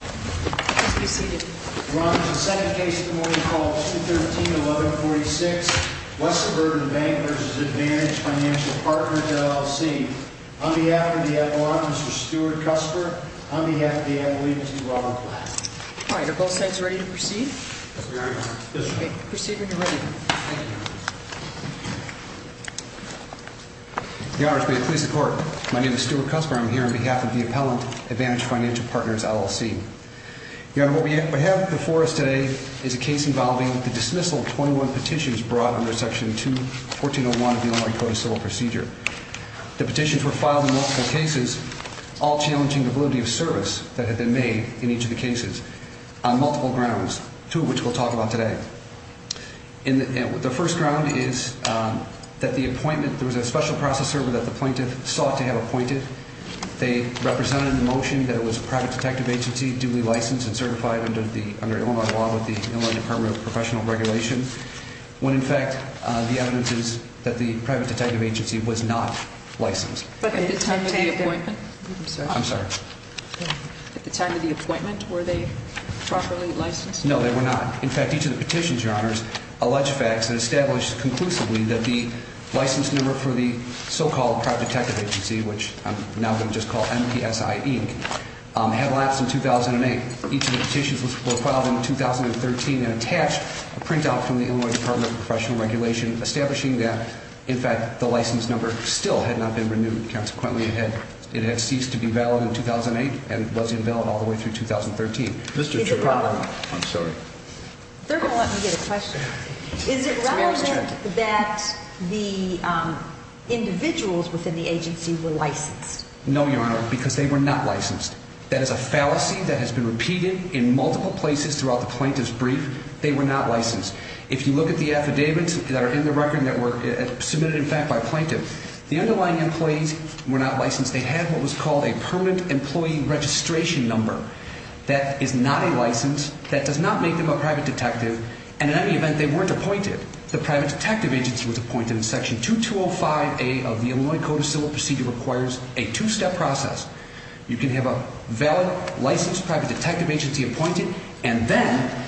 Please be seated. Your Honor, this is the second case of the morning called 213-1146. West Suburban Bank v. Advantage Financial Partners, LLC. On behalf of the appellant, Mr. Stuart Cusper. On behalf of the appellant, Mr. Ronald Platt. All right, are both sides ready to proceed? Yes, Your Honor. Proceed when you're ready. Thank you, Your Honor. Your Honor, may it please the Court. My name is Stuart Cusper. I'm here on behalf of the appellant, Advantage Financial Partners, LLC. Your Honor, what we have before us today is a case involving the dismissal of 21 petitions brought under Section 2-1401 of the Illinois Code of Civil Procedure. The petitions were filed in multiple cases, all challenging the validity of service that had been made in each of the cases on multiple grounds, two of which we'll talk about today. The first ground is that the appointment, there was a special process server that the plaintiff sought to have appointed. They represented in the motion that it was a private detective agency, duly licensed and certified under Illinois law with the Illinois Department of Professional Regulation. When in fact, the evidence is that the private detective agency was not licensed. But at the time of the appointment? I'm sorry. At the time of the appointment, were they properly licensed? No, they were not. In fact, each of the petitions, Your Honors, alleged facts and established conclusively that the license number for the so-called private detective agency, which I'm now going to just call MPSI Inc., had lapsed in 2008. Each of the petitions were filed in 2013 and attached a printout from the Illinois Department of Professional Regulation establishing that, in fact, the license number still had not been renewed. Consequently, it had ceased to be valid in 2008 and was invalid all the way through 2013. Is it relevant that the individuals within the agency were licensed? No, Your Honor, because they were not licensed. That is a fallacy that has been repeated in multiple places throughout the plaintiff's brief. They were not licensed. If you look at the affidavits that are in the record that were submitted, in fact, by a plaintiff, the underlying employees were not licensed. They had what was called a permanent employee registration number. That is not a license. That does not make them a private detective. And in any event, they weren't appointed. The private detective agency was appointed in Section 2205A of the Illinois Code of Civil Procedure requires a two-step process. You can have a valid, licensed private detective agency appointed, and then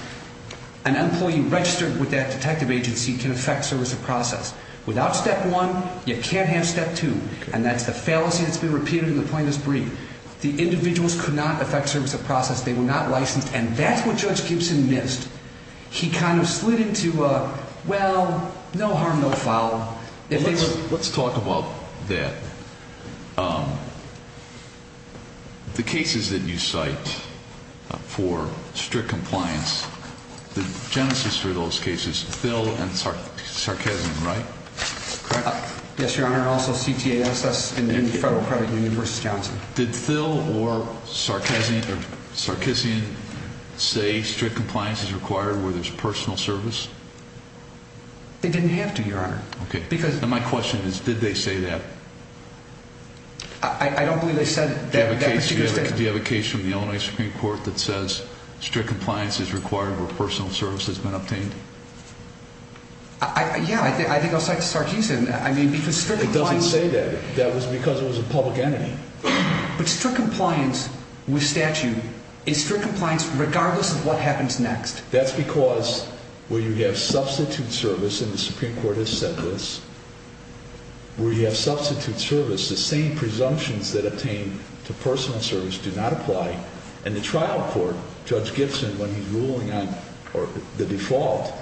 an employee registered with that detective agency can affect service of process. Without step one, you can't have step two. And that's the fallacy that's been repeated in the plaintiff's brief. The individuals could not affect service of process. They were not licensed. And that's what Judge Gibson missed. He kind of slid into a, well, no harm, no foul. Let's talk about that. The cases that you cite for strict compliance, the genesis for those cases, Thill and Sarkezian, right? Correct. Yes, Your Honor. And also CTASS and Federal Credit Union v. Johnson. Did Thill or Sarkezian say strict compliance is required where there's personal service? They didn't have to, Your Honor. Okay. My question is, did they say that? I don't believe they said that. Do you have a case from the Illinois Supreme Court that says strict compliance is required where personal service has been obtained? Yeah, I think I'll cite Sarkezian. It doesn't say that. That was because it was a public entity. But strict compliance with statute is strict compliance regardless of what happens next. That's because where you have substitute service, and the Supreme Court has said this, where you have substitute service, the same presumptions that obtain to personal service do not apply. And the trial court, Judge Gibson, when he's ruling on the default,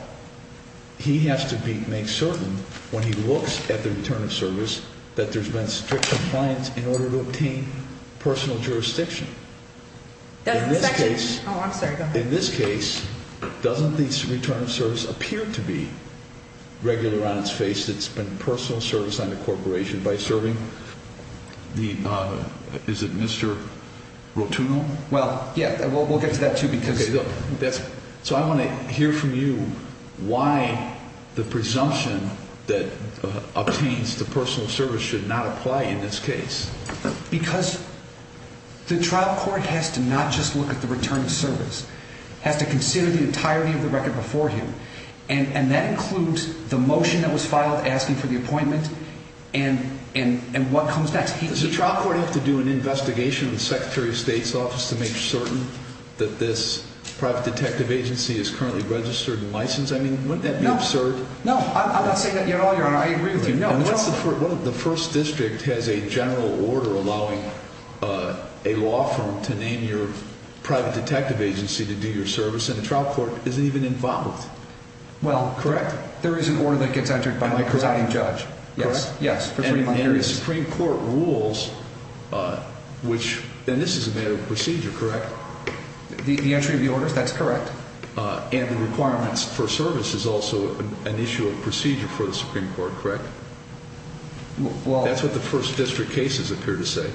he has to make certain when he looks at the return of service that there's been strict compliance in order to obtain personal jurisdiction. In this case, doesn't the return of service appear to be regular on its face that's been personal service on the corporation by serving? Is it Mr. Rotuno? Well, yeah. We'll get to that, too. Okay. So I want to hear from you why the presumption that obtains to personal service should not apply in this case. Because the trial court has to not just look at the return of service. It has to consider the entirety of the record before him. And that includes the motion that was filed asking for the appointment and what comes next. Does the trial court have to do an investigation with the Secretary of State's office to make certain that this private detective agency is currently registered and licensed? I mean, wouldn't that be absurd? No. I'm not saying that at all, Your Honor. I agree with you. The first district has a general order allowing a law firm to name your private detective agency to do your service, and the trial court isn't even involved. Well, correct. There is an order that gets entered by the presiding judge. Correct? Yes. And the Supreme Court rules, and this is a matter of procedure, correct? The entry of the orders, that's correct. And the requirements for service is also an issue of procedure for the Supreme Court, correct? That's what the first district cases appear to say.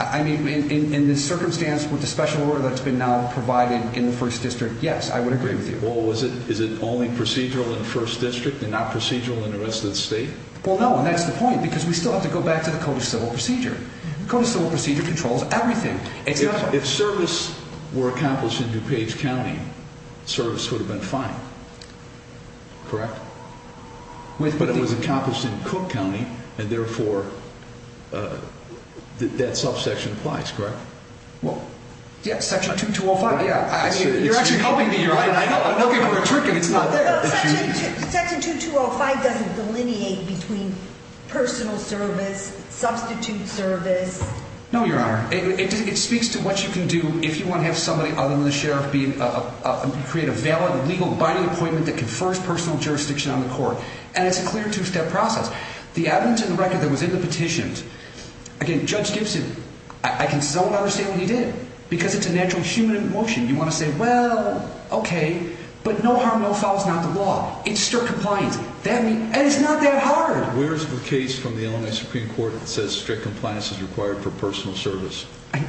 I mean, in the circumstance with the special order that's been now provided in the first district, yes, I would agree with you. Well, is it only procedural in the first district and not procedural in the rest of the state? Well, no, and that's the point, because we still have to go back to the Code of Civil Procedure. The Code of Civil Procedure controls everything. If service were accomplished in DuPage County, service would have been fine, correct? But it was accomplished in Cook County, and therefore that subsection applies, correct? Well, yes, Section 2205, yes. You're actually helping me here. I'm looking for a trick and it's not there. Section 2205 doesn't delineate between personal service, substitute service. No, Your Honor. It speaks to what you can do if you want to have somebody other than the sheriff create a valid legal binding appointment that confers personal jurisdiction on the court. And it's a clear two-step process. The evidence in the record that was in the petitions, again, Judge Gibson, I can so not understand what he did. Because it's a natural human emotion. You want to say, well, okay, but no harm, no foul is not the law. It's strict compliance. And it's not that hard. Where is the case from the Illinois Supreme Court that says strict compliance is required for personal service?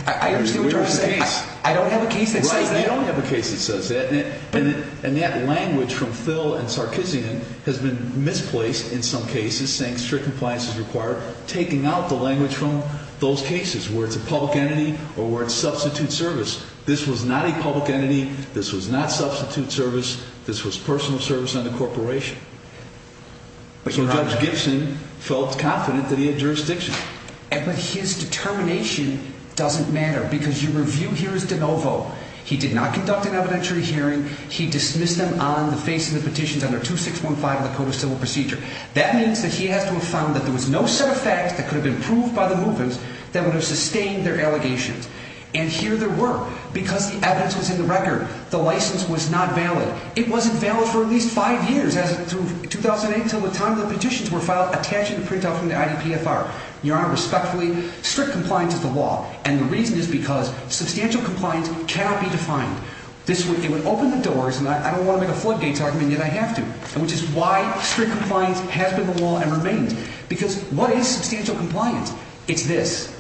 I understand what you're saying. Where is the case? I don't have a case that says that. Right, you don't have a case that says that. And that language from Phil and Sarkisian has been misplaced in some cases, saying strict compliance is required, taking out the language from those cases where it's a public entity or where it's substitute service. This was not a public entity. This was not substitute service. This was personal service under corporation. So Judge Gibson felt confident that he had jurisdiction. But his determination doesn't matter because your review here is de novo. He did not conduct an evidentiary hearing. He dismissed them on the face of the petitions under 2615 of the Code of Civil Procedure. That means that he has to have found that there was no set of facts that could have been proved by the movements that would have sustained their allegations. And here there were. Because the evidence was in the record, the license was not valid. It wasn't valid for at least five years, 2008, until the time the petitions were filed, attached in the printout from the IDPFR. Your Honor, respectfully, strict compliance is the law. And the reason is because substantial compliance cannot be defined. It would open the doors, and I don't want to make a floodgates argument, and yet I have to, which is why strict compliance has been the law and remains. Because what is substantial compliance? It's this.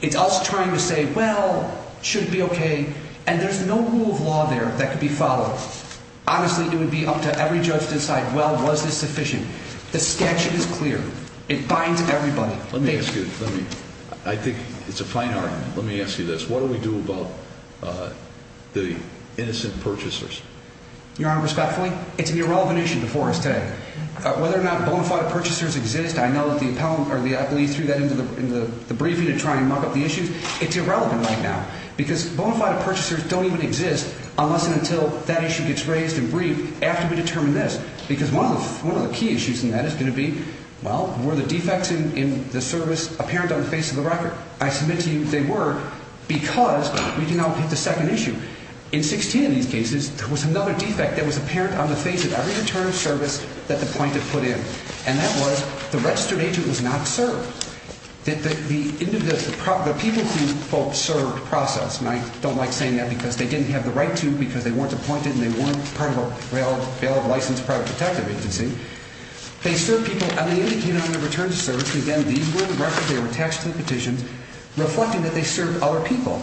It's us trying to say, well, should it be okay? And there's no rule of law there that could be followed. Honestly, it would be up to every judge to decide, well, was this sufficient? The statute is clear. It binds everybody. Let me ask you. I think it's a fine argument. Let me ask you this. What do we do about the innocent purchasers? Your Honor, respectfully, it's an irrelevant issue before us today. Whether or not bonafide purchasers exist, I know that the appellant or the athlete threw that into the briefing to try and muck up the issues. It's irrelevant right now because bonafide purchasers don't even exist unless and until that issue gets raised and briefed after we determine this. Because one of the key issues in that is going to be, well, were the defects in the service apparent on the face of the record? I submit to you they were because we can now pick the second issue. In 16 of these cases, there was another defect that was apparent on the face of every return of service that the plaintiff put in, and that was the registered agent was not served. The people to whom folks served process, and I don't like saying that because they didn't have the right to because they weren't appointed and they weren't part of a valid, licensed private detective agency. They served people, and they indicated on their return to service, again, these were the records, they were attached to the petitions, reflecting that they served other people.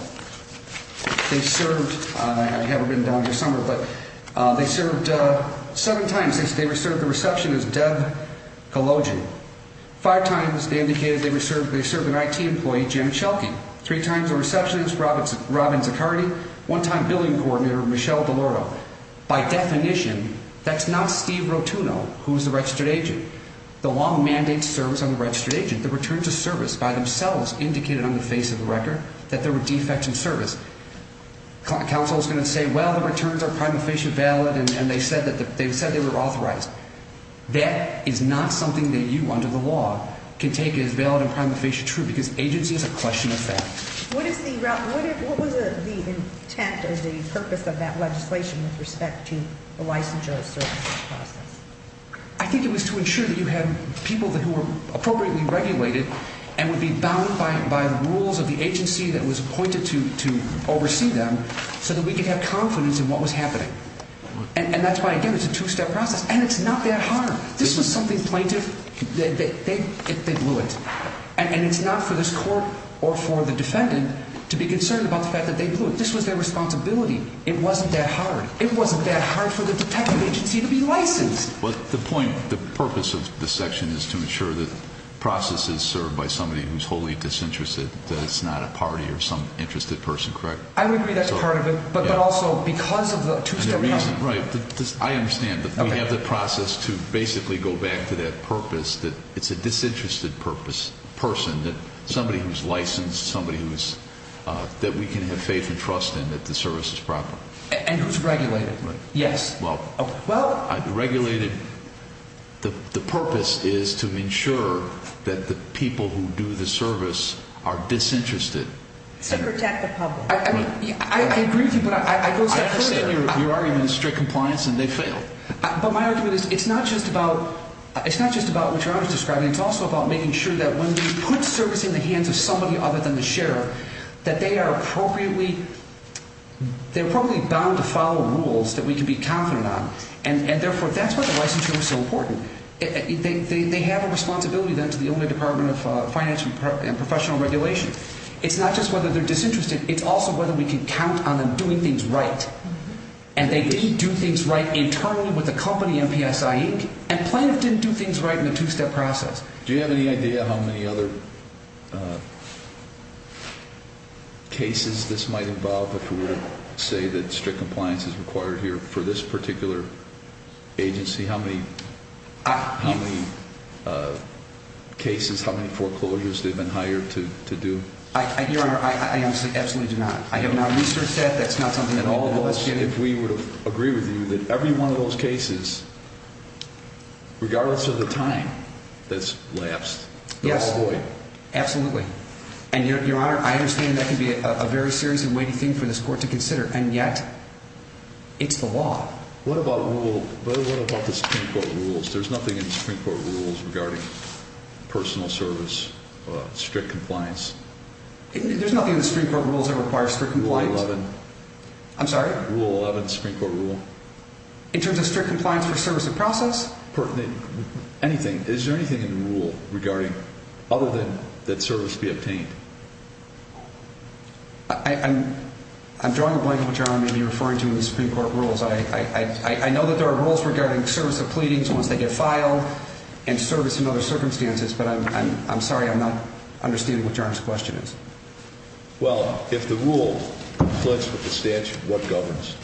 They served, and I haven't been down here summer, but they served seven times. Five times they served the receptionist, Deb Cologian. Five times they indicated they served an IT employee, Janet Schelke. Three times the receptionist, Robin Zaccardi. One time billing coordinator, Michelle DeLauro. By definition, that's not Steve Rotuno, who's the registered agent. The law mandates service on the registered agent. The return to service by themselves indicated on the face of the record that there were defects in service. Counsel is going to say, well, the returns are prima facie valid, and they said they were authorized. That is not something that you, under the law, can take as valid and prima facie true because agency is a question of fact. What was the intent or the purpose of that legislation with respect to the licensure of services process? I think it was to ensure that you had people who were appropriately regulated and would be bound by the rules of the agency that was appointed to oversee them so that we could have confidence in what was happening. And that's why, again, it's a two-step process. And it's not that hard. This was something plaintiff, they blew it. And it's not for this court or for the defendant to be concerned about the fact that they blew it. This was their responsibility. It wasn't that hard. It wasn't that hard for the detective agency to be licensed. But the point, the purpose of this section is to ensure that process is served by somebody who's wholly disinterested, that it's not a party or some interested person, correct? I would agree that's part of it, but also because of the two-step process. I understand that we have the process to basically go back to that purpose, that it's a disinterested person, somebody who's licensed, somebody that we can have faith and trust in that the service is proper. And who's regulated. Right. Yes. Well, regulated, the purpose is to ensure that the people who do the service are disinterested. To protect the public. Right. I agree with you, but I go a step further. I understand your argument, strict compliance, and they fail. But my argument is it's not just about what your honor is describing. It's also about making sure that when we put service in the hands of somebody other than the sheriff, that they are appropriately bound to follow rules that we can be confident on. And, therefore, that's why the licensure was so important. They have a responsibility, then, to the only Department of Financial and Professional Regulation. It's not just whether they're disinterested. It's also whether we can count on them doing things right. And they didn't do things right internally with the company, MPSI, Inc., and Plano didn't do things right in the two-step process. Do you have any idea how many other cases this might involve if we were to say that strict compliance is required here? For this particular agency, how many cases, how many foreclosures they've been hired to do? Your honor, I absolutely do not. I have not researched that. That's not something that we've been investigating. If we would agree with you that every one of those cases, regardless of the time that's lapsed, they're all void. Yes, absolutely. And, your honor, I understand that can be a very serious and weighty thing for this court to consider, and yet it's the law. What about the Supreme Court rules? There's nothing in the Supreme Court rules regarding personal service, strict compliance. There's nothing in the Supreme Court rules that requires strict compliance. Rule 11. I'm sorry? Rule 11, Supreme Court rule. In terms of strict compliance for service of process? Anything. Is there anything in the rule regarding other than that service be obtained? I'm drawing a blank on what your honor may be referring to in the Supreme Court rules. I know that there are rules regarding service of pleadings once they get filed and service in other circumstances, but I'm sorry. I'm not understanding what your honor's question is. Well, if the rule conflicts with the statute, what governs?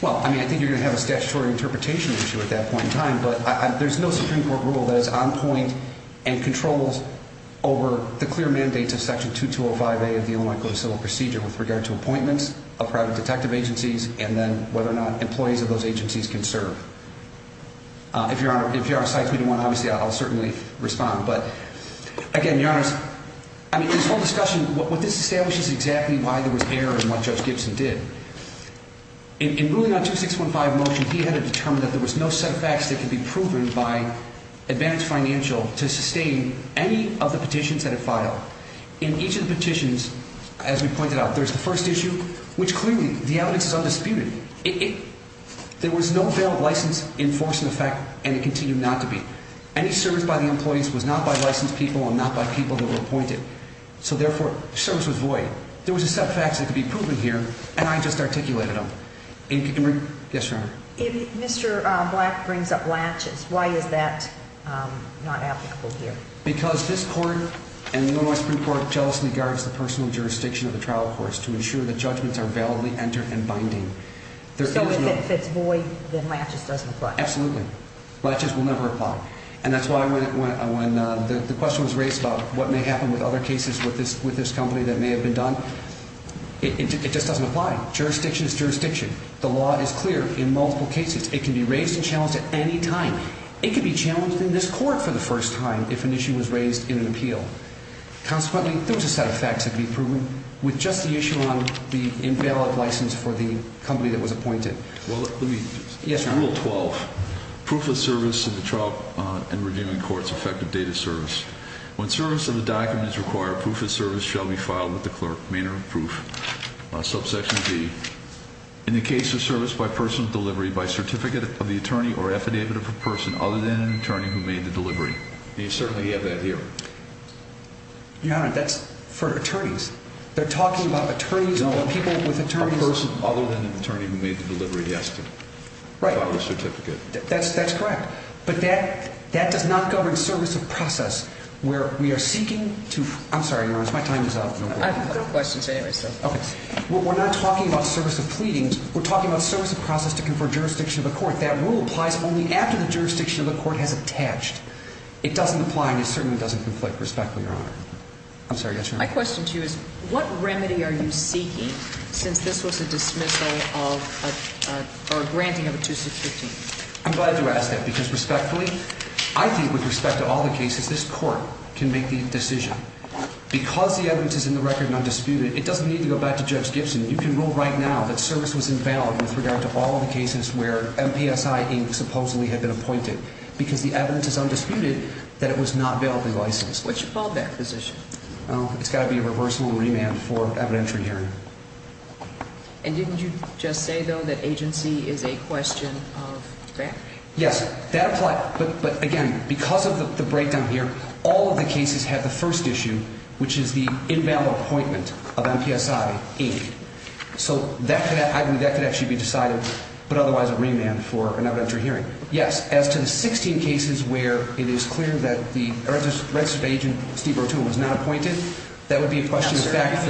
Well, I mean, I think you're going to have a statutory interpretation issue at that point in time, but there's no Supreme Court rule that is on point and controls over the clear mandates of Section 2205A of the Illinois Code of Civil Procedure with regard to appointments of private detective agencies and then whether or not employees of those agencies can serve. If your honor cites me to one, obviously I'll certainly respond. But again, your honors, I mean, this whole discussion, what this establishes is exactly why there was error in what Judge Gibson did. In ruling on 2615 motion, he had it determined that there was no set of facts that could be proven by advantage financial to sustain any of the petitions that are filed. In each of the petitions, as we pointed out, there's the first issue, which clearly the evidence is undisputed. There was no valid license enforcing effect and it continued not to be. Any service by the employees was not by licensed people and not by people that were appointed. So therefore, service was void. There was a set of facts that could be proven here, and I just articulated them. Yes, your honor. If Mr. Black brings up laches, why is that not applicable here? Because this court and the Illinois Supreme Court jealously guards the personal jurisdiction of the trial course to ensure that judgments are validly entered and binding. So if it's void, then laches doesn't apply. Absolutely. Laches will never apply. And that's why when the question was raised about what may happen with other cases with this company that may have been done, it just doesn't apply. Jurisdiction is jurisdiction. The law is clear in multiple cases. It can be raised and challenged at any time. It could be challenged in this court for the first time if an issue was raised in an appeal. Consequently, there was a set of facts that could be proven with just the issue on the invalid license for the company that was appointed. Well, let me – Yes, your honor. Rule 12. Proof of service in the trial and reviewing court's effective date of service. When service of a document is required, proof of service shall be filed with the clerk. Maynard, Proof. Subsection D. In the case of service by person of delivery, by certificate of the attorney or affidavit of a person other than an attorney who made the delivery. You certainly have that here. Your honor, that's for attorneys. They're talking about attorneys and people with attorneys. A person other than an attorney who made the delivery has to file a certificate. That's correct. But that does not govern service of process where we are seeking to – I'm sorry, your honor. My time is up. I have no questions anyway. Okay. We're not talking about service of pleadings. We're talking about service of process to confer jurisdiction of the court. That rule applies only after the jurisdiction of the court has attached. It doesn't apply and it certainly doesn't conflict. Respectfully, your honor. I'm sorry. Yes, your honor. My question to you is what remedy are you seeking since this was a dismissal of or a granting of a 2615? I'm glad you asked that because respectfully, I think with respect to all the cases, this court can make the decision. Because the evidence is in the record and undisputed, it doesn't need to go back to Judge Gibson. You can rule right now that service was invalid with regard to all the cases where MPSI Inc. supposedly had been appointed because the evidence is undisputed that it was not validly licensed. What's your fallback position? It's got to be a reversible remand for evidentiary hearing. And didn't you just say, though, that agency is a question of grant? Yes. That applies. But, again, because of the breakdown here, all of the cases have the first issue, which is the invalid appointment of MPSI Inc. So that could actually be decided, but otherwise a remand for an evidentiary hearing. Yes. As to the 16 cases where it is clear that the registrar's agent, Steve Rotuno, was not appointed, that would be a question of fact.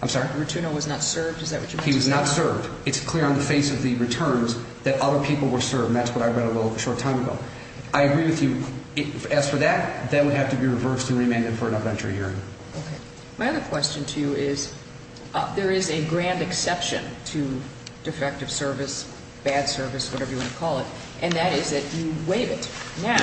I'm sorry. Rotuno was not served? Is that what you mean? He was not served. It's clear on the face of the returns that other people were served. And that's what I read a little short time ago. I agree with you. As for that, that would have to be reversed and remanded for an evidentiary hearing. Okay. My other question to you is there is a grand exception to defective service, bad service, whatever you want to call it, and that is that you waive it. Now,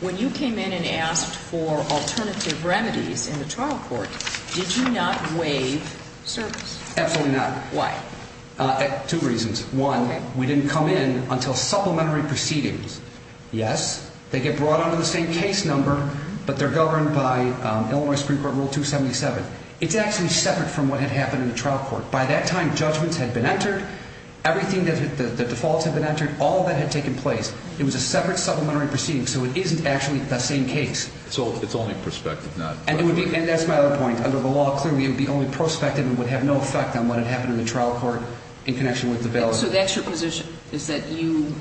when you came in and asked for alternative remedies in the trial court, did you not waive service? Absolutely not. Why? Two reasons. One, we didn't come in until supplementary proceedings. Yes. They get brought under the same case number, but they're governed by Illinois Supreme Court Rule 277. It's actually separate from what had happened in the trial court. By that time, judgments had been entered. Everything, the defaults had been entered. All of that had taken place. It was a separate supplementary proceeding, so it isn't actually the same case. So it's only prospective. And that's my other point. Under the law, clearly it would be only prospective and would have no effect on what had happened in the trial court in connection with the bailout. So that's your position, is that you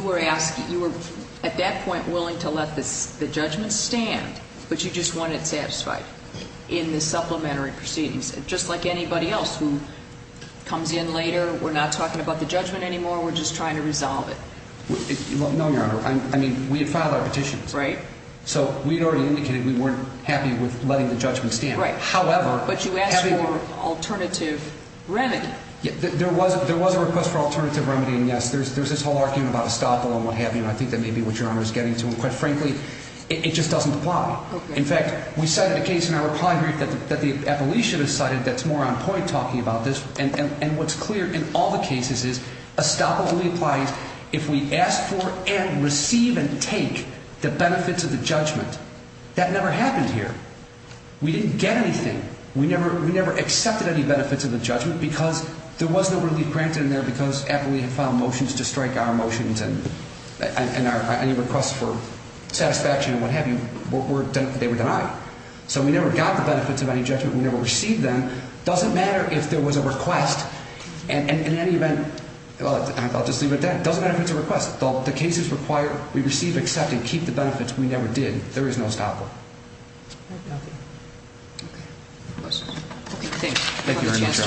were at that point willing to let the judgment stand, but you just wanted it satisfied in the supplementary proceedings, just like anybody else who comes in later, we're not talking about the judgment anymore, we're just trying to resolve it. No, Your Honor. I mean, we had filed our petitions. Right. So we had already indicated we weren't happy with letting the judgment stand. Right. However... But you asked for alternative remedy. There was a request for alternative remedy, and yes, there's this whole argument about estoppel and what have you, and I think that may be what Your Honor is getting to. And quite frankly, it just doesn't apply. Okay. In fact, we cited a case in our reply group that the appellee should have cited that's more on point talking about this. And what's clear in all the cases is estoppel only applies if we ask for and receive and take the benefits of the judgment. That never happened here. We didn't get anything. We never accepted any benefits of the judgment because there was no relief granted in there because after we had filed motions to strike our motions and any requests for satisfaction and what have you, they were denied. So we never got the benefits of any judgment. We never received them. It doesn't matter if there was a request. And in any event, I'll just leave it at that. It doesn't matter if it's a request. The cases require we receive, accept, and keep the benefits. We never did. There is no estoppel. I have nothing. Okay. Okay, thanks. Thank you very much, Your Honor.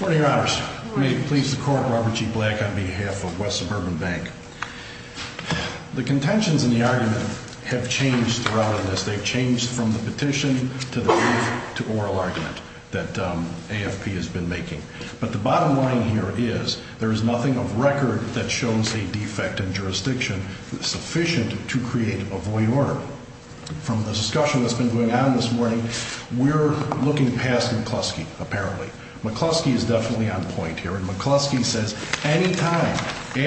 Good morning, Your Honors. Good morning. May it please the Court, Robert G. Black on behalf of West Suburban Bank. The contentions in the argument have changed throughout on this. They've changed from the petition to the brief to oral argument that AFP has been making. But the bottom line here is there is nothing of record that shows a defect in jurisdiction sufficient to create a void order. From the discussion that's been going on this morning, we're looking past McCluskey, apparently. McCluskey is definitely on point here. McCluskey says any time after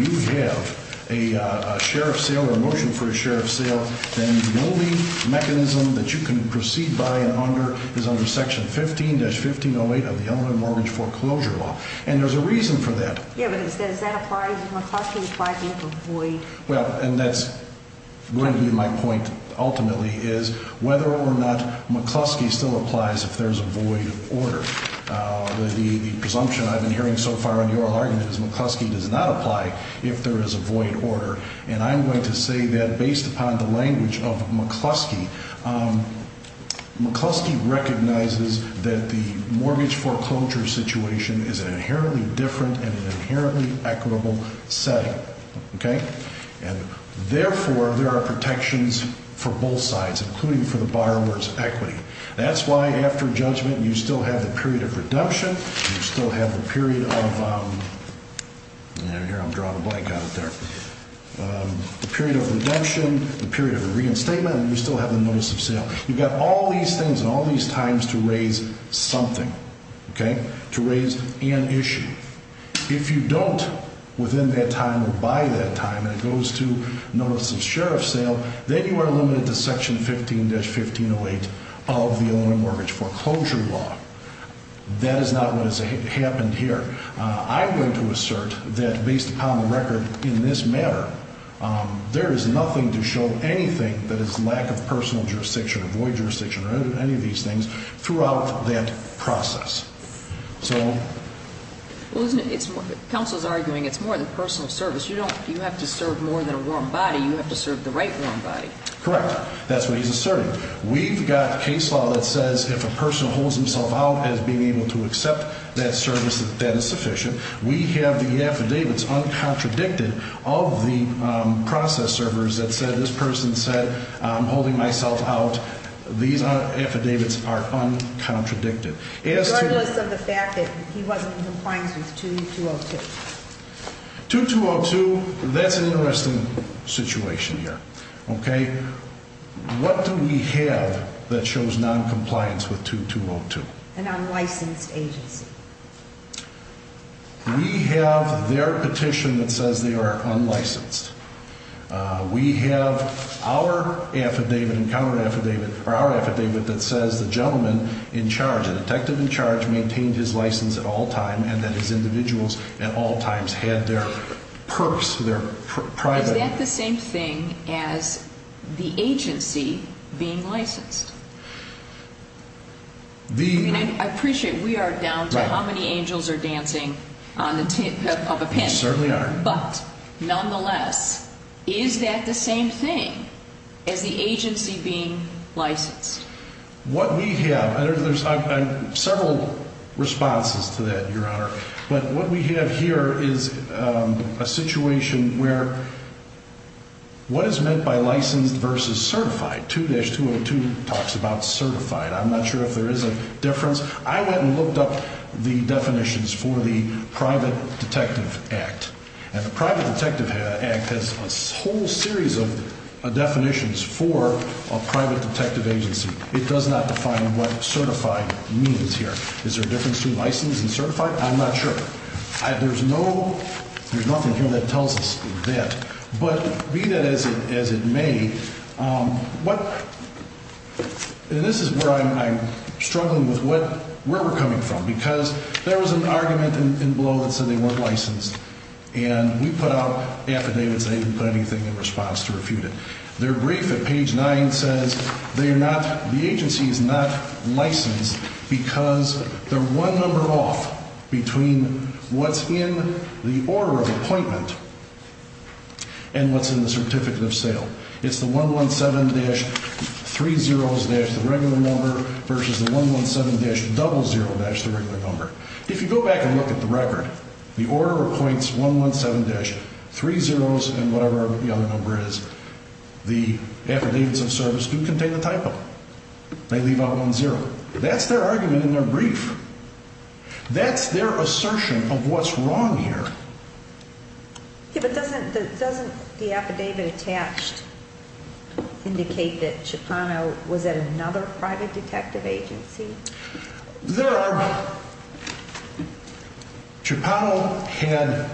you have a share of sale or a motion for a share of sale, then the only mechanism that you can proceed by and under is under Section 15-1508 of the Elementary Mortgage Foreclosure Law. And there's a reason for that. Yeah, but does that apply to McCluskey? Applies to a void? Well, and that's going to be my point ultimately is whether or not McCluskey still applies if there's a void order. The presumption I've been hearing so far in the oral argument is McCluskey does not apply if there is a void order. And I'm going to say that based upon the language of McCluskey, McCluskey recognizes that the mortgage foreclosure situation is an inherently different and an inherently equitable setting. Okay? And therefore, there are protections for both sides, including for the borrower's equity. That's why after judgment, you still have the period of redemption. You still have the period of—here, I'm drawing a blank on it there—the period of redemption, the period of reinstatement, and you still have the notice of sale. You've got all these things and all these times to raise something, okay, to raise an issue. If you don't, within that time or by that time, and it goes to notice of share of sale, then you are limited to Section 15-1508 of the Illinois Mortgage Foreclosure Law. That is not what has happened here. I'm going to assert that based upon the record in this matter, there is nothing to show anything that is lack of personal jurisdiction or void jurisdiction or any of these things throughout that process. Counsel is arguing it's more than personal service. You have to serve more than a warm body. You have to serve the right warm body. Correct. That's what he's asserting. We've got case law that says if a person holds himself out as being able to accept that service, that is sufficient. We have the affidavits uncontradicted of the process servers that said this person said I'm holding myself out. These affidavits are uncontradicted. Regardless of the fact that he wasn't in compliance with 2202. 2202, that's an interesting situation here, okay? What do we have that shows noncompliance with 2202? An unlicensed agency. We have their petition that says they are unlicensed. We have our affidavit and counter affidavit or our affidavit that says the gentleman in charge, the detective in charge, maintained his license at all times and that his individuals at all times had their purse, their private. Is that the same thing as the agency being licensed? I appreciate we are down to how many angels are dancing on the tip of a pen. We certainly are. But nonetheless, is that the same thing as the agency being licensed? What we have, there's several responses to that, Your Honor. But what we have here is a situation where what is meant by licensed versus certified? 2202 talks about certified. I went and looked up the definitions for the Private Detective Act. And the Private Detective Act has a whole series of definitions for a private detective agency. It does not define what certified means here. Is there a difference between licensed and certified? I'm not sure. There's nothing here that tells us that. But read it as it may. And this is where I'm struggling with where we're coming from. Because there was an argument in blow that said they weren't licensed. And we put out affidavits. They didn't put anything in response to refute it. Their brief at page 9 says they are not, the agency is not licensed because they're one number off between what's in the order of appointment and what's in the certificate of sale. It's the 117-30s-the regular number versus the 117-00-the regular number. If you go back and look at the record, the order appoints 117-30s and whatever the other number is. The affidavits of service do contain a typo. They leave out 10. That's their argument in their brief. That's their assertion of what's wrong here. Yeah, but doesn't the affidavit attached indicate that Cipano was at another private detective agency? There are. Cipano had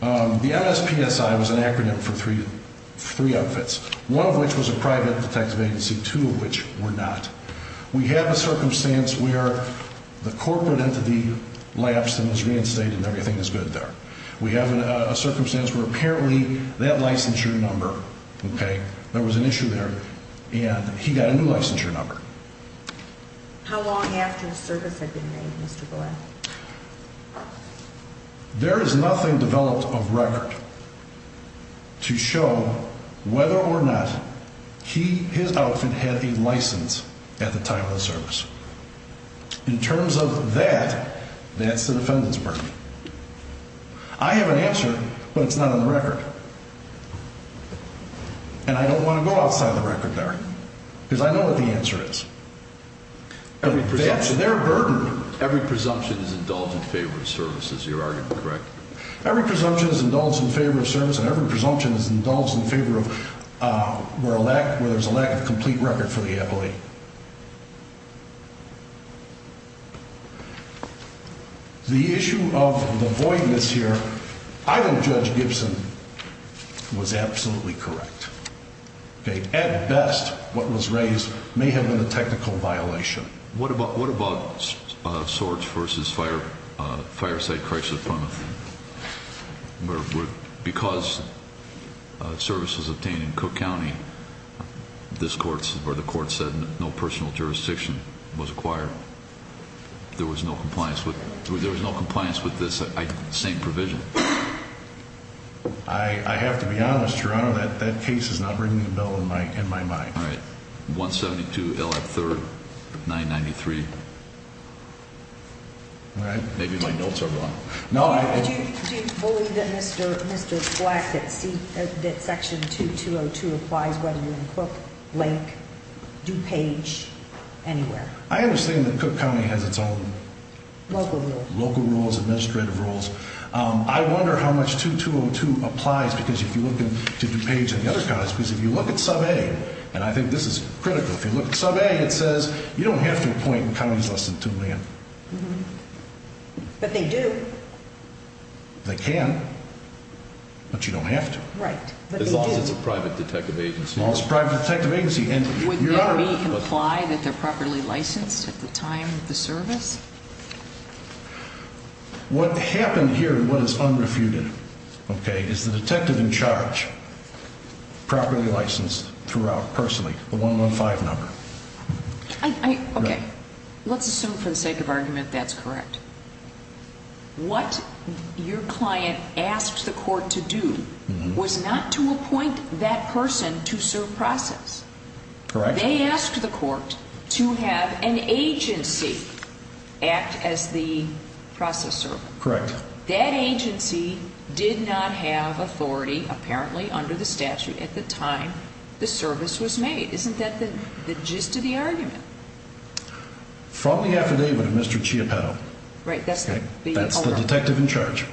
the MSPSI was an acronym for three outfits, one of which was a private detective agency, two of which were not. We have a circumstance where the corporate entity lapsed and was reinstated and everything is good there. We have a circumstance where apparently that licensure number, okay, there was an issue there, and he got a new licensure number. How long after the service had been made, Mr. Boyle? There is nothing developed of record to show whether or not he, his outfit, had a license at the time of the service. In terms of that, that's the defendant's burden. I have an answer, but it's not on the record. And I don't want to go outside the record there because I know what the answer is. That's their burden. Every presumption is indulged in favor of service, is your argument correct? Every presumption is indulged in favor of service, and every presumption is indulged in favor of where there's a lack of complete record for the appellee. The issue of the voidness here, I think Judge Gibson was absolutely correct. At best, what was raised may have been a technical violation. What about Swartz v. Fireside Crisis Appointment? Because service was obtained in Cook County, where the court said no personal jurisdiction was acquired, there was no compliance with this same provision? I have to be honest, Your Honor, that case is not ringing a bell in my mind. All right. 172 L.F. 3rd, 993. All right. Maybe my notes are wrong. Do you believe that Mr. Black, that Section 2202 applies whether you're in Cook, Lake, DuPage, anywhere? I understand that Cook County has its own local rules, administrative rules. I wonder how much 2202 applies, because if you look at DuPage and the other counties, because if you look at Sub-A, and I think this is critical, if you look at Sub-A, it says you don't have to appoint in counties less than 2 million. But they do. They can, but you don't have to. Right. As long as it's a private detective agency. As long as it's a private detective agency. Would there be comply that they're properly licensed at the time of the service? What happened here and what is unrefuted, okay, is the detective in charge properly licensed throughout personally, the 115 number. Okay. Let's assume for the sake of argument that's correct. What your client asked the court to do was not to appoint that person to serve process. Correct. They asked the court to have an agency act as the processor. Correct. That agency did not have authority, apparently, under the statute at the time the service was made. Isn't that the gist of the argument? From the affidavit of Mr. Chiappelle. Right, that's the owner. That's the detective in charge.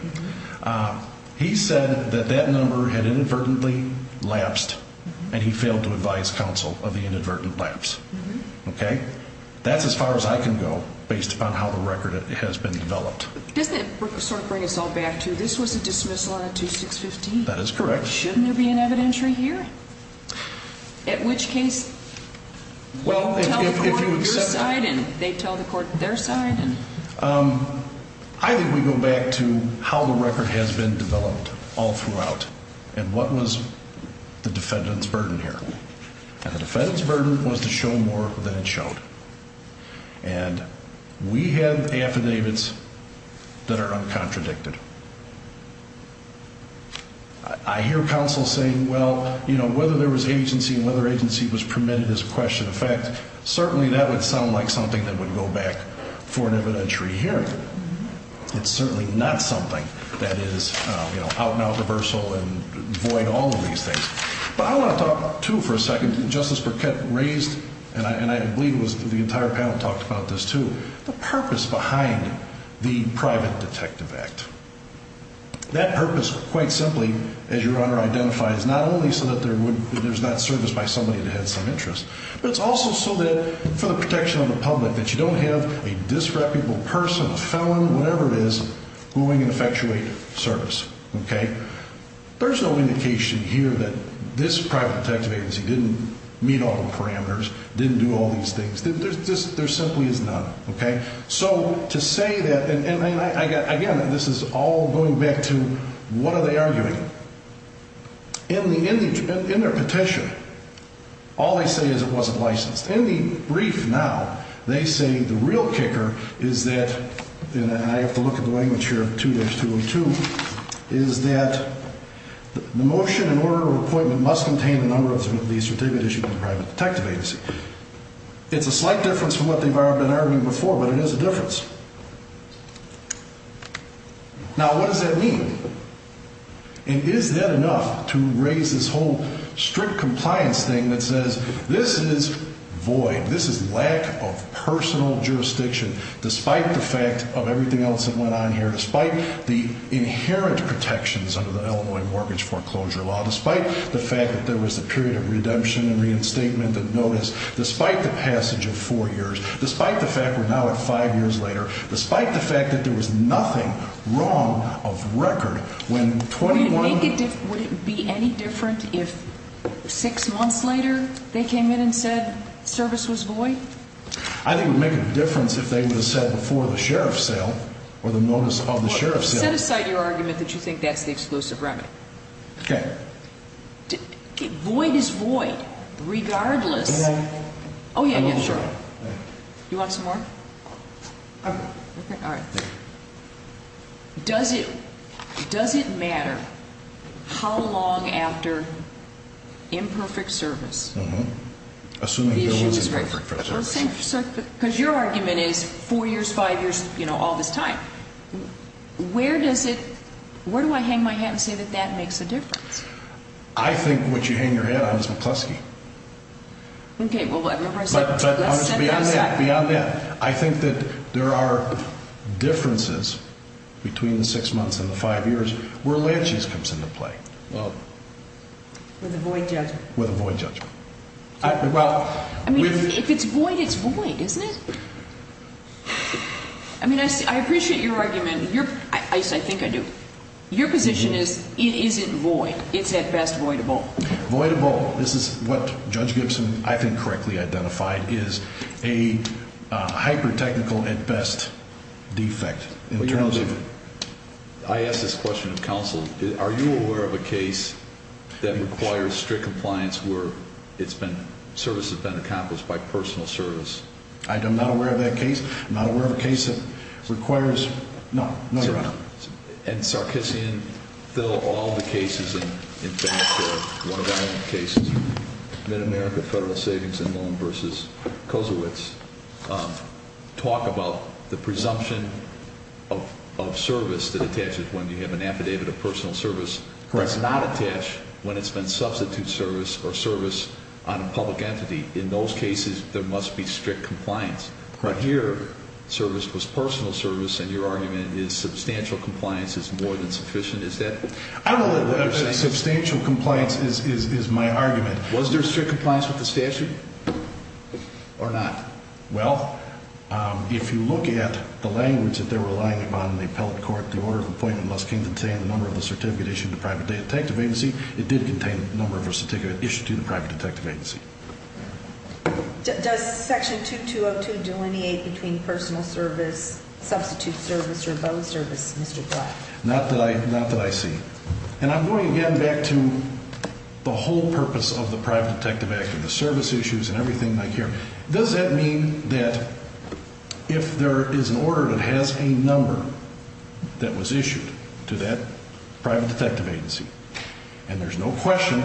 He said that that number had inadvertently lapsed and he failed to advise counsel of the inadvertent lapse. Okay. That's as far as I can go based upon how the record has been developed. Doesn't it sort of bring us all back to this was a dismissal on a 2615? That is correct. Shouldn't there be an evidentiary here? At which case, we tell the court your side and they tell the court their side? I think we go back to how the record has been developed all throughout and what was the defendant's burden here. And the defendant's burden was to show more than it showed. And we have affidavits that are uncontradicted. I hear counsel saying, well, you know, whether there was agency and whether agency was permitted is a question. In fact, certainly that would sound like something that would go back for an evidentiary hearing. It's certainly not something that is, you know, out-and-out reversal and void all of these things. But I want to talk, too, for a second. Justice Burkett raised, and I believe it was the entire panel talked about this, too, the purpose behind the private detective act. That purpose, quite simply, as your Honor identifies, not only so that there's not service by somebody that has some interest, but it's also so that for the protection of the public, that you don't have a disreputable person, a felon, whatever it is, going and effectuate service. Okay? There's no indication here that this private detective agency didn't meet all the parameters, didn't do all these things. There simply is none. Okay? So to say that, and again, this is all going back to what are they arguing? In their petition, all they say is it wasn't licensed. In the brief now, they say the real kicker is that, and I have to look at the language here, 2-202, is that the motion in order of appointment must contain the number of the certificate issued by the private detective agency. It's a slight difference from what they've been arguing before, but it is a difference. Now, what does that mean? And is that enough to raise this whole strict compliance thing that says this is void, this is lack of personal jurisdiction, despite the fact of everything else that went on here, despite the inherent protections under the Illinois Mortgage Foreclosure Law, despite the fact that there was a period of redemption and reinstatement of notice, despite the passage of four years, despite the fact we're now at five years later, despite the fact that there was nothing wrong of record when 21- Would it be any different if six months later they came in and said service was void? I think it would make a difference if they would have said before the sheriff's sale or the notice of the sheriff's sale- Well, set aside your argument that you think that's the exclusive remedy. Okay. Void is void, regardless. Oh, yeah, yeah, sure. You want some more? Okay. Okay, all right. Does it matter how long after imperfect service- Mm-hmm. Assuming there was imperfect service. Because your argument is four years, five years, you know, all this time. Where does it- where do I hang my hat and say that that makes a difference? I think what you hang your hat on is McCluskey. Okay, well, remember I said- But beyond that, beyond that, I think that there are differences between the six months and the five years where Lansky's comes into play. With a void judgment. With a void judgment. I mean, if it's void, it's void, isn't it? I mean, I appreciate your argument. I think I do. Your position is it isn't void. It's at best voidable. Voidable. This is what Judge Gibson, I think, correctly identified is a hyper-technical at best defect. I ask this question of counsel. Are you aware of a case that requires strict compliance where it's been- services have been accomplished by personal service? I'm not aware of that case. I'm not aware of a case that requires- no, no, Your Honor. And Sarkissian, Thill, all the cases, in fact, one of our own cases, Mid-America Federal Savings and Loan v. Kozowitz, talk about the presumption of service that attaches when you have an affidavit of personal service that's not attached when it's been substitute service or service on a public entity. In those cases, there must be strict compliance. But here, service was personal service, and your argument is substantial compliance is more than sufficient. Is that what you're saying? Substantial compliance is my argument. Was there strict compliance with the statute or not? Well, if you look at the language that they're relying upon in the appellate court, the order of appointment must contain the number of a certificate issued to the private detective agency. It did contain the number of a certificate issued to the private detective agency. Does Section 2202 delineate between personal service, substitute service, or both service, Mr. Black? Not that I see. And I'm going again back to the whole purpose of the Private Detective Act and the service issues and everything like here. Does that mean that if there is an order that has a number that was issued to that private detective agency, and there's no question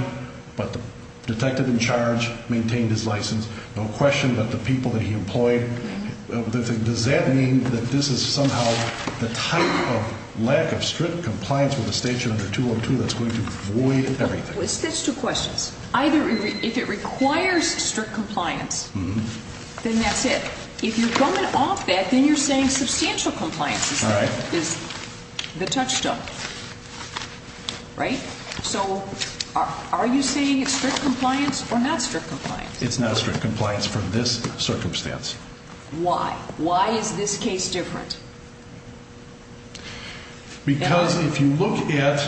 but the detective in charge maintained his license, no question but the people that he employed, does that mean that this is somehow the type of lack of strict compliance with the statute under 202 that's going to void everything? That's two questions. Either if it requires strict compliance, then that's it. If you're coming off that, then you're saying substantial compliance is the touchstone. Right? So are you saying it's strict compliance or not strict compliance? It's not strict compliance for this circumstance. Why? Why is this case different? Because if you look at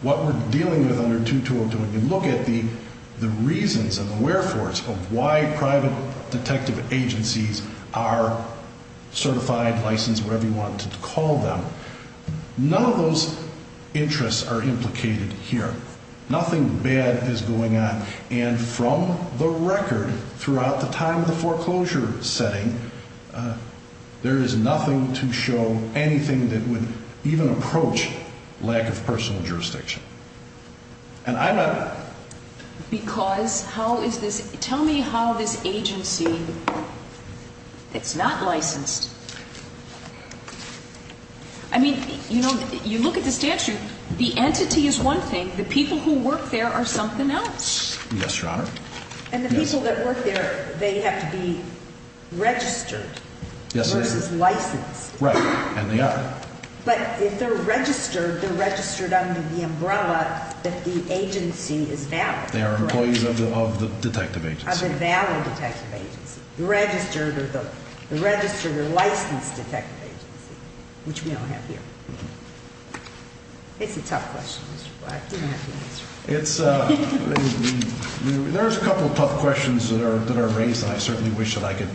what we're dealing with under 2202, and you look at the reasons and the wherefores of why private detective agencies are certified, licensed, whatever you want to call them, none of those interests are implicated here. Nothing bad is going on. And from the record throughout the time of the foreclosure setting, there is nothing to show anything that would even approach lack of personal jurisdiction. Because how is this? Tell me how this agency that's not licensed I mean, you know, you look at the statute. The entity is one thing. The people who work there are something else. Yes, Your Honor. And the people that work there, they have to be registered versus licensed. Right, and they are. But if they're registered, they're registered under the umbrella that the agency is valid. They are employees of the detective agency. Of a valid detective agency. The registered or the licensed detective agency, which we don't have here. It's a tough question, Mr. Black. You don't have to answer it. There's a couple of tough questions that are raised, and I certainly wish that I could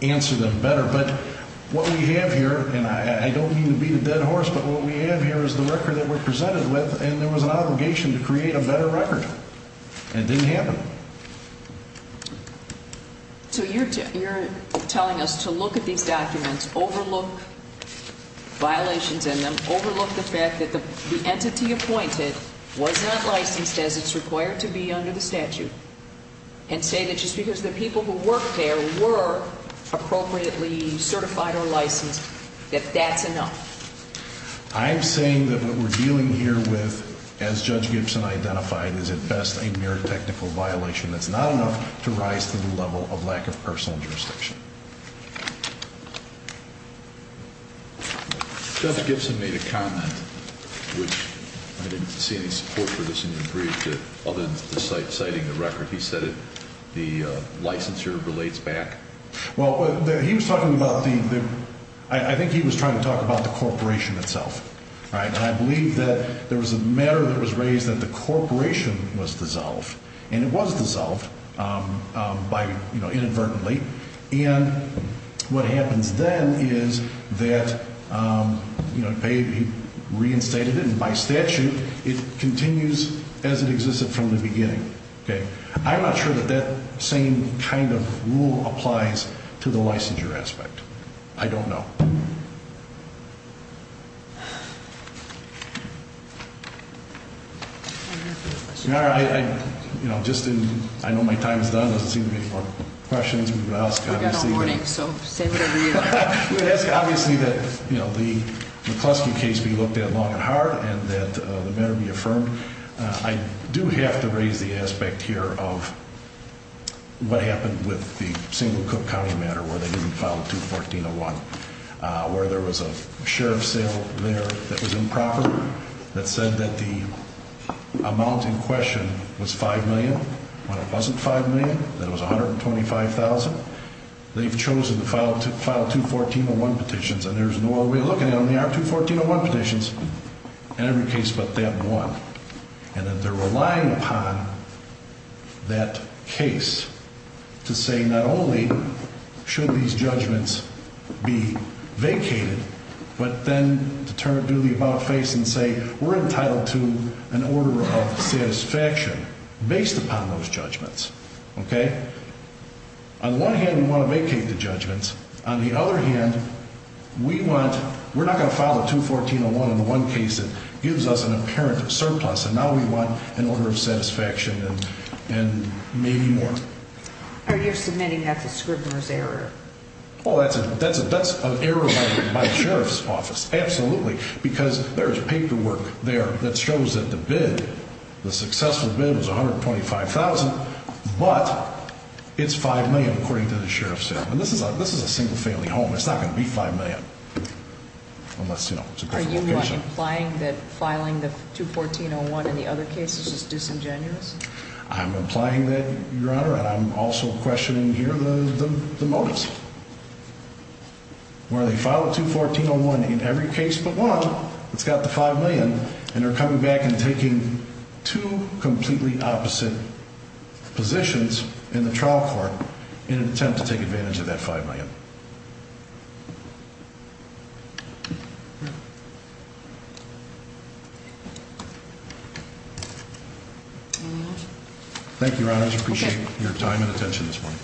answer them better. But what we have here, and I don't mean to beat a dead horse, but what we have here is the record that we're presented with, and there was an obligation to create a better record, and it didn't happen. So you're telling us to look at these documents, overlook violations in them, overlook the fact that the entity appointed was not licensed as it's required to be under the statute, and say that just because the people who work there were appropriately certified or licensed, that that's enough. I'm saying that what we're dealing here with, as Judge Gibson identified, is at best a mere technical violation that's not enough to rise to the level of lack of personal jurisdiction. Judge Gibson made a comment, which I didn't see any support for this in your brief, other than citing the record. He said the licensure relates back. Well, he was talking about the, I think he was trying to talk about the corporation itself, right? And I believe that there was a matter that was raised that the corporation was dissolved, and it was dissolved by, you know, inadvertently. And what happens then is that, you know, he reinstated it, and by statute it continues as it existed from the beginning. Okay? I'm not sure that that same kind of rule applies to the licensure aspect. I don't know. Your Honor, I, you know, just didn't, I know my time is done. There doesn't seem to be any more questions. We've got all morning, so send it over here. We ask, obviously, that, you know, the McCluskey case be looked at long and hard, and that it better be affirmed. I do have to raise the aspect here of what happened with the single Cook County matter, where they didn't file 214.01, where there was a sheriff's sale there that was improper, that said that the amount in question was $5 million. When it wasn't $5 million, then it was $125,000. They've chosen to file 214.01 petitions, and there's no other way of looking at them. There are 214.01 petitions in every case but that one. And that they're relying upon that case to say not only should these judgments be vacated, but then to turn to the about face and say we're entitled to an order of satisfaction based upon those judgments. Okay? On the one hand, we want to vacate the judgments. On the other hand, we want, we're not going to file a 214.01 in the one case that gives us an apparent surplus, and now we want an order of satisfaction and maybe more. Are you submitting that's a scrivener's error? Oh, that's an error by the sheriff's office, absolutely, because there is paperwork there that shows that the bid, the successful bid was $125,000, and this is a single-family home. It's not going to be $5 million unless, you know, it's a different location. Are you implying that filing the 214.01 in the other cases is disingenuous? I'm implying that, Your Honor, and I'm also questioning here the motives. Where they file a 214.01 in every case but one that's got the $5 million, and they're coming back and taking two completely opposite positions in the trial court in an attempt to take advantage of that $5 million. Thank you, Your Honors. Appreciate your time and attention this morning.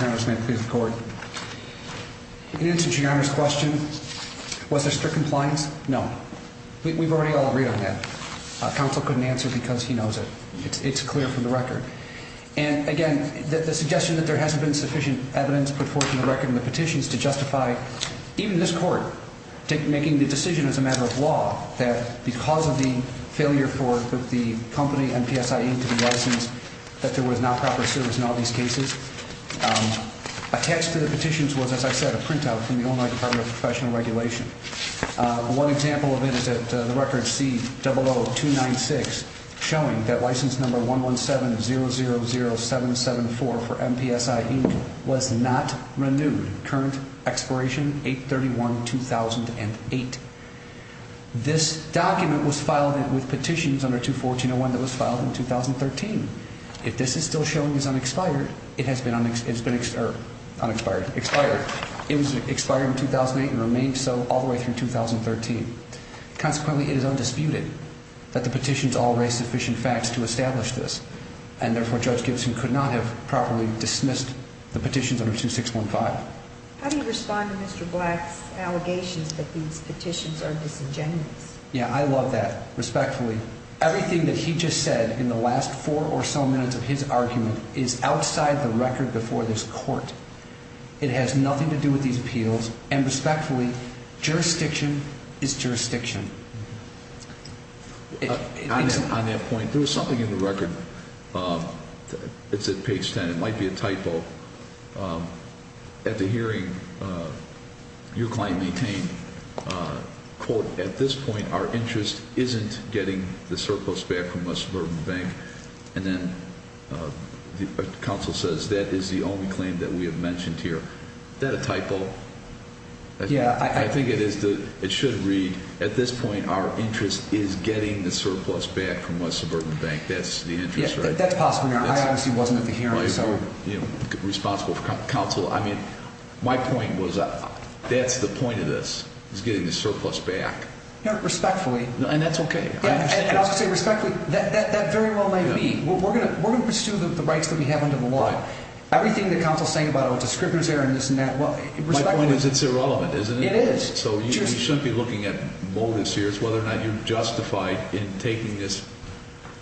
Your Honors, may I please record? In answer to Your Honor's question, was there strict compliance? No. We've already all agreed on that. Counsel couldn't answer because he knows it. It's clear from the record. And, again, the suggestion that there hasn't been sufficient evidence put forth in the record and the petitions to justify even this court making the decision as a matter of law that because of the failure for the company, MPSI Inc., to be licensed, that there was not proper service in all these cases. Attached to the petitions was, as I said, a printout from the Illinois Department of Professional Regulation. One example of it is at the record C00296, showing that license number 117000774 for MPSI Inc. was not renewed. Current expiration, 8-31-2008. This document was filed with petitions under 214-01 that was filed in 2013. If this is still showing as unexpired, it has been unexpired. It was expired in 2008 and remained so all the way through 2013. Consequently, it is undisputed that the petitions all raise sufficient facts to establish this. And, therefore, Judge Gibson could not have properly dismissed the petitions under 2615. How do you respond to Mr. Black's allegations that these petitions are disingenuous? Yeah, I love that, respectfully. Everything that he just said in the last four or so minutes of his argument is outside the record before this court. It has nothing to do with these appeals. And, respectfully, jurisdiction is jurisdiction. On that point, there was something in the record. It's at page 10. It might be a typo. At the hearing, your claim maintained, quote, At this point, our interest isn't getting the surplus back from West Suburban Bank. And then the counsel says that is the only claim that we have mentioned here. Is that a typo? Yeah, I think it is. It should read, At this point, our interest is getting the surplus back from West Suburban Bank. That's the interest, right? That's possible. I obviously wasn't at the hearing. I'm responsible for counsel. My point was that's the point of this, is getting the surplus back. Respectfully. And that's okay. And I'll say respectfully, that very well may be. We're going to pursue the rights that we have under the law. Everything the counsel is saying about, oh, it's a scrivener's error and this and that. My point is it's irrelevant, isn't it? It is. So you shouldn't be looking at motives here. It's whether or not you're justified in taking this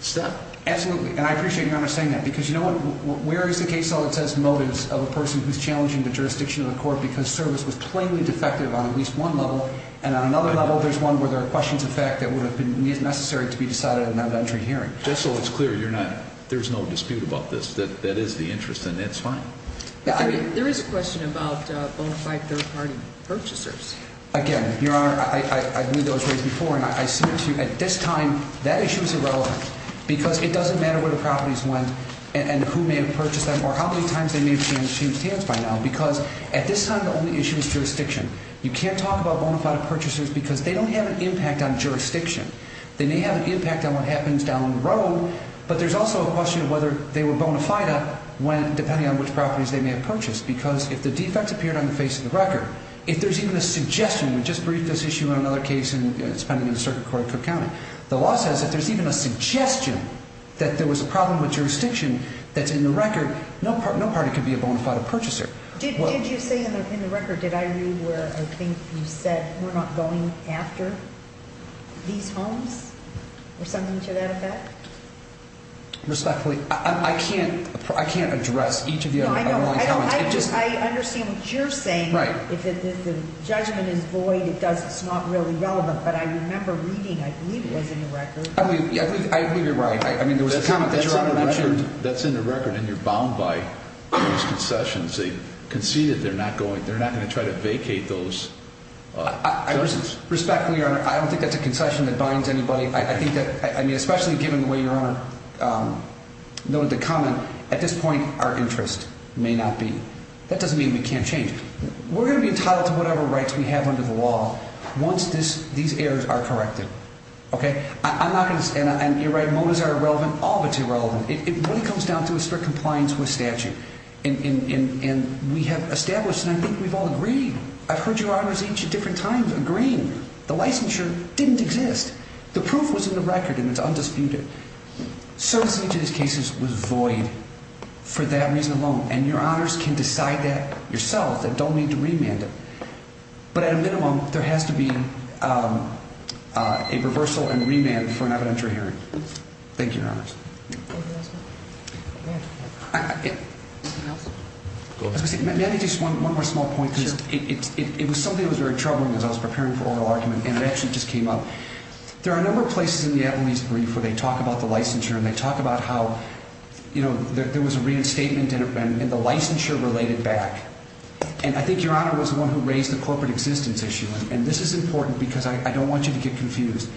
step. Absolutely. And I appreciate your honor saying that. Because you know what? Where is the case that says motives of a person who's challenging the jurisdiction of the court because service was plainly defective on at least one level. And on another level, there's one where there are questions of fact that would have been necessary to be decided in that entry hearing. Just so it's clear, there's no dispute about this. That is the interest, and that's fine. There is a question about bona fide third-party purchasers. Again, your honor, I've made those points before. And I submit to you, at this time, that issue is irrelevant. Because it doesn't matter where the properties went and who may have purchased them or how many times they may have changed hands by now. Because at this time, the only issue is jurisdiction. You can't talk about bona fide purchasers because they don't have an impact on jurisdiction. They may have an impact on what happens down the road, but there's also a question of whether they were bona fide depending on which properties they may have purchased. Because if the defects appeared on the face of the record, if there's even a suggestion, we just briefed this issue in another case, and it's pending in the Circuit Court of Cook County. The law says if there's even a suggestion that there was a problem with jurisdiction that's in the record, no party could be a bona fide purchaser. Did you say in the record, did I read where I think you said we're not going after these homes or something to that effect? Respectfully, I can't address each of your comments. I understand what you're saying. If the judgment is void, it's not really relevant. But I remember reading, I believe it was in the record. I believe you're right. I mean, there was a comment that your Honor mentioned. That's in the record, and you're bound by those concessions. They concede that they're not going to try to vacate those. Respectfully, Your Honor, I don't think that's a concession that binds anybody. I think that, I mean, especially given the way Your Honor noted the comment, at this point, our interest may not be. That doesn't mean we can't change it. We're going to be entitled to whatever rights we have under the law once these errors are corrected. Okay? I'm not going to, and you're right, motives are irrelevant, all of it's irrelevant. It really comes down to a strict compliance with statute. And we have established, and I think we've all agreed, I've heard Your Honors each at different times agreeing, the licensure didn't exist. The proof was in the record, and it's undisputed. Certainty to these cases was void for that reason alone, and Your Honors can decide that yourself. They don't need to remand it. But at a minimum, there has to be a reversal and remand for an evidentiary hearing. Thank you, Your Honors. May I make just one more small point? It was something that was very troubling as I was preparing for oral argument, and it actually just came up. There are a number of places in the Eveline's brief where they talk about the licensure, and they talk about how there was a reinstatement, and the licensure related back. And I think Your Honor was the one who raised the corporate existence issue, and this is important because I don't want you to get confused.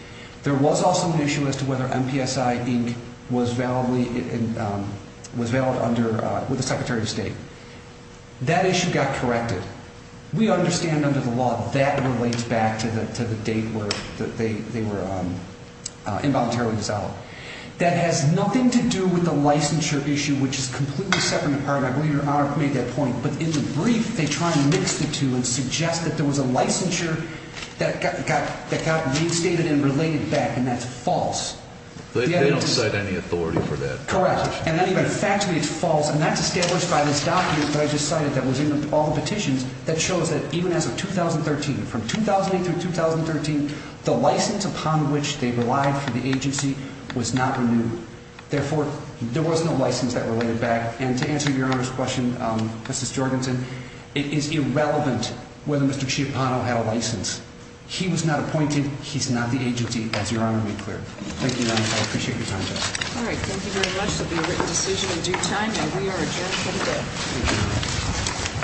There was also an issue as to whether MPSI Inc. was valid with the Secretary of State. That issue got corrected. We understand under the law that relates back to the date where they were involuntarily dissolved. That has nothing to do with the licensure issue, which is completely separate and apart. I believe Your Honor made that point. But in the brief, they try to mix the two and suggest that there was a licensure that got reinstated and related back, and that's false. They don't cite any authority for that. Correct. And then even factually, it's false, and that's established by this document that I just cited that was in all the petitions that shows that even as of 2013, from 2008 through 2013, the license upon which they relied for the agency was not renewed. Therefore, there was no license that related back. And to answer Your Honor's question, Mrs. Jorgensen, it is irrelevant whether Mr. Chiapano had a license. He was not appointed. He's not the agency, as Your Honor made clear. Thank you, Your Honor. I appreciate your time today. All right. Thank you very much. This will be a written decision in due time, and we are adjourned for today.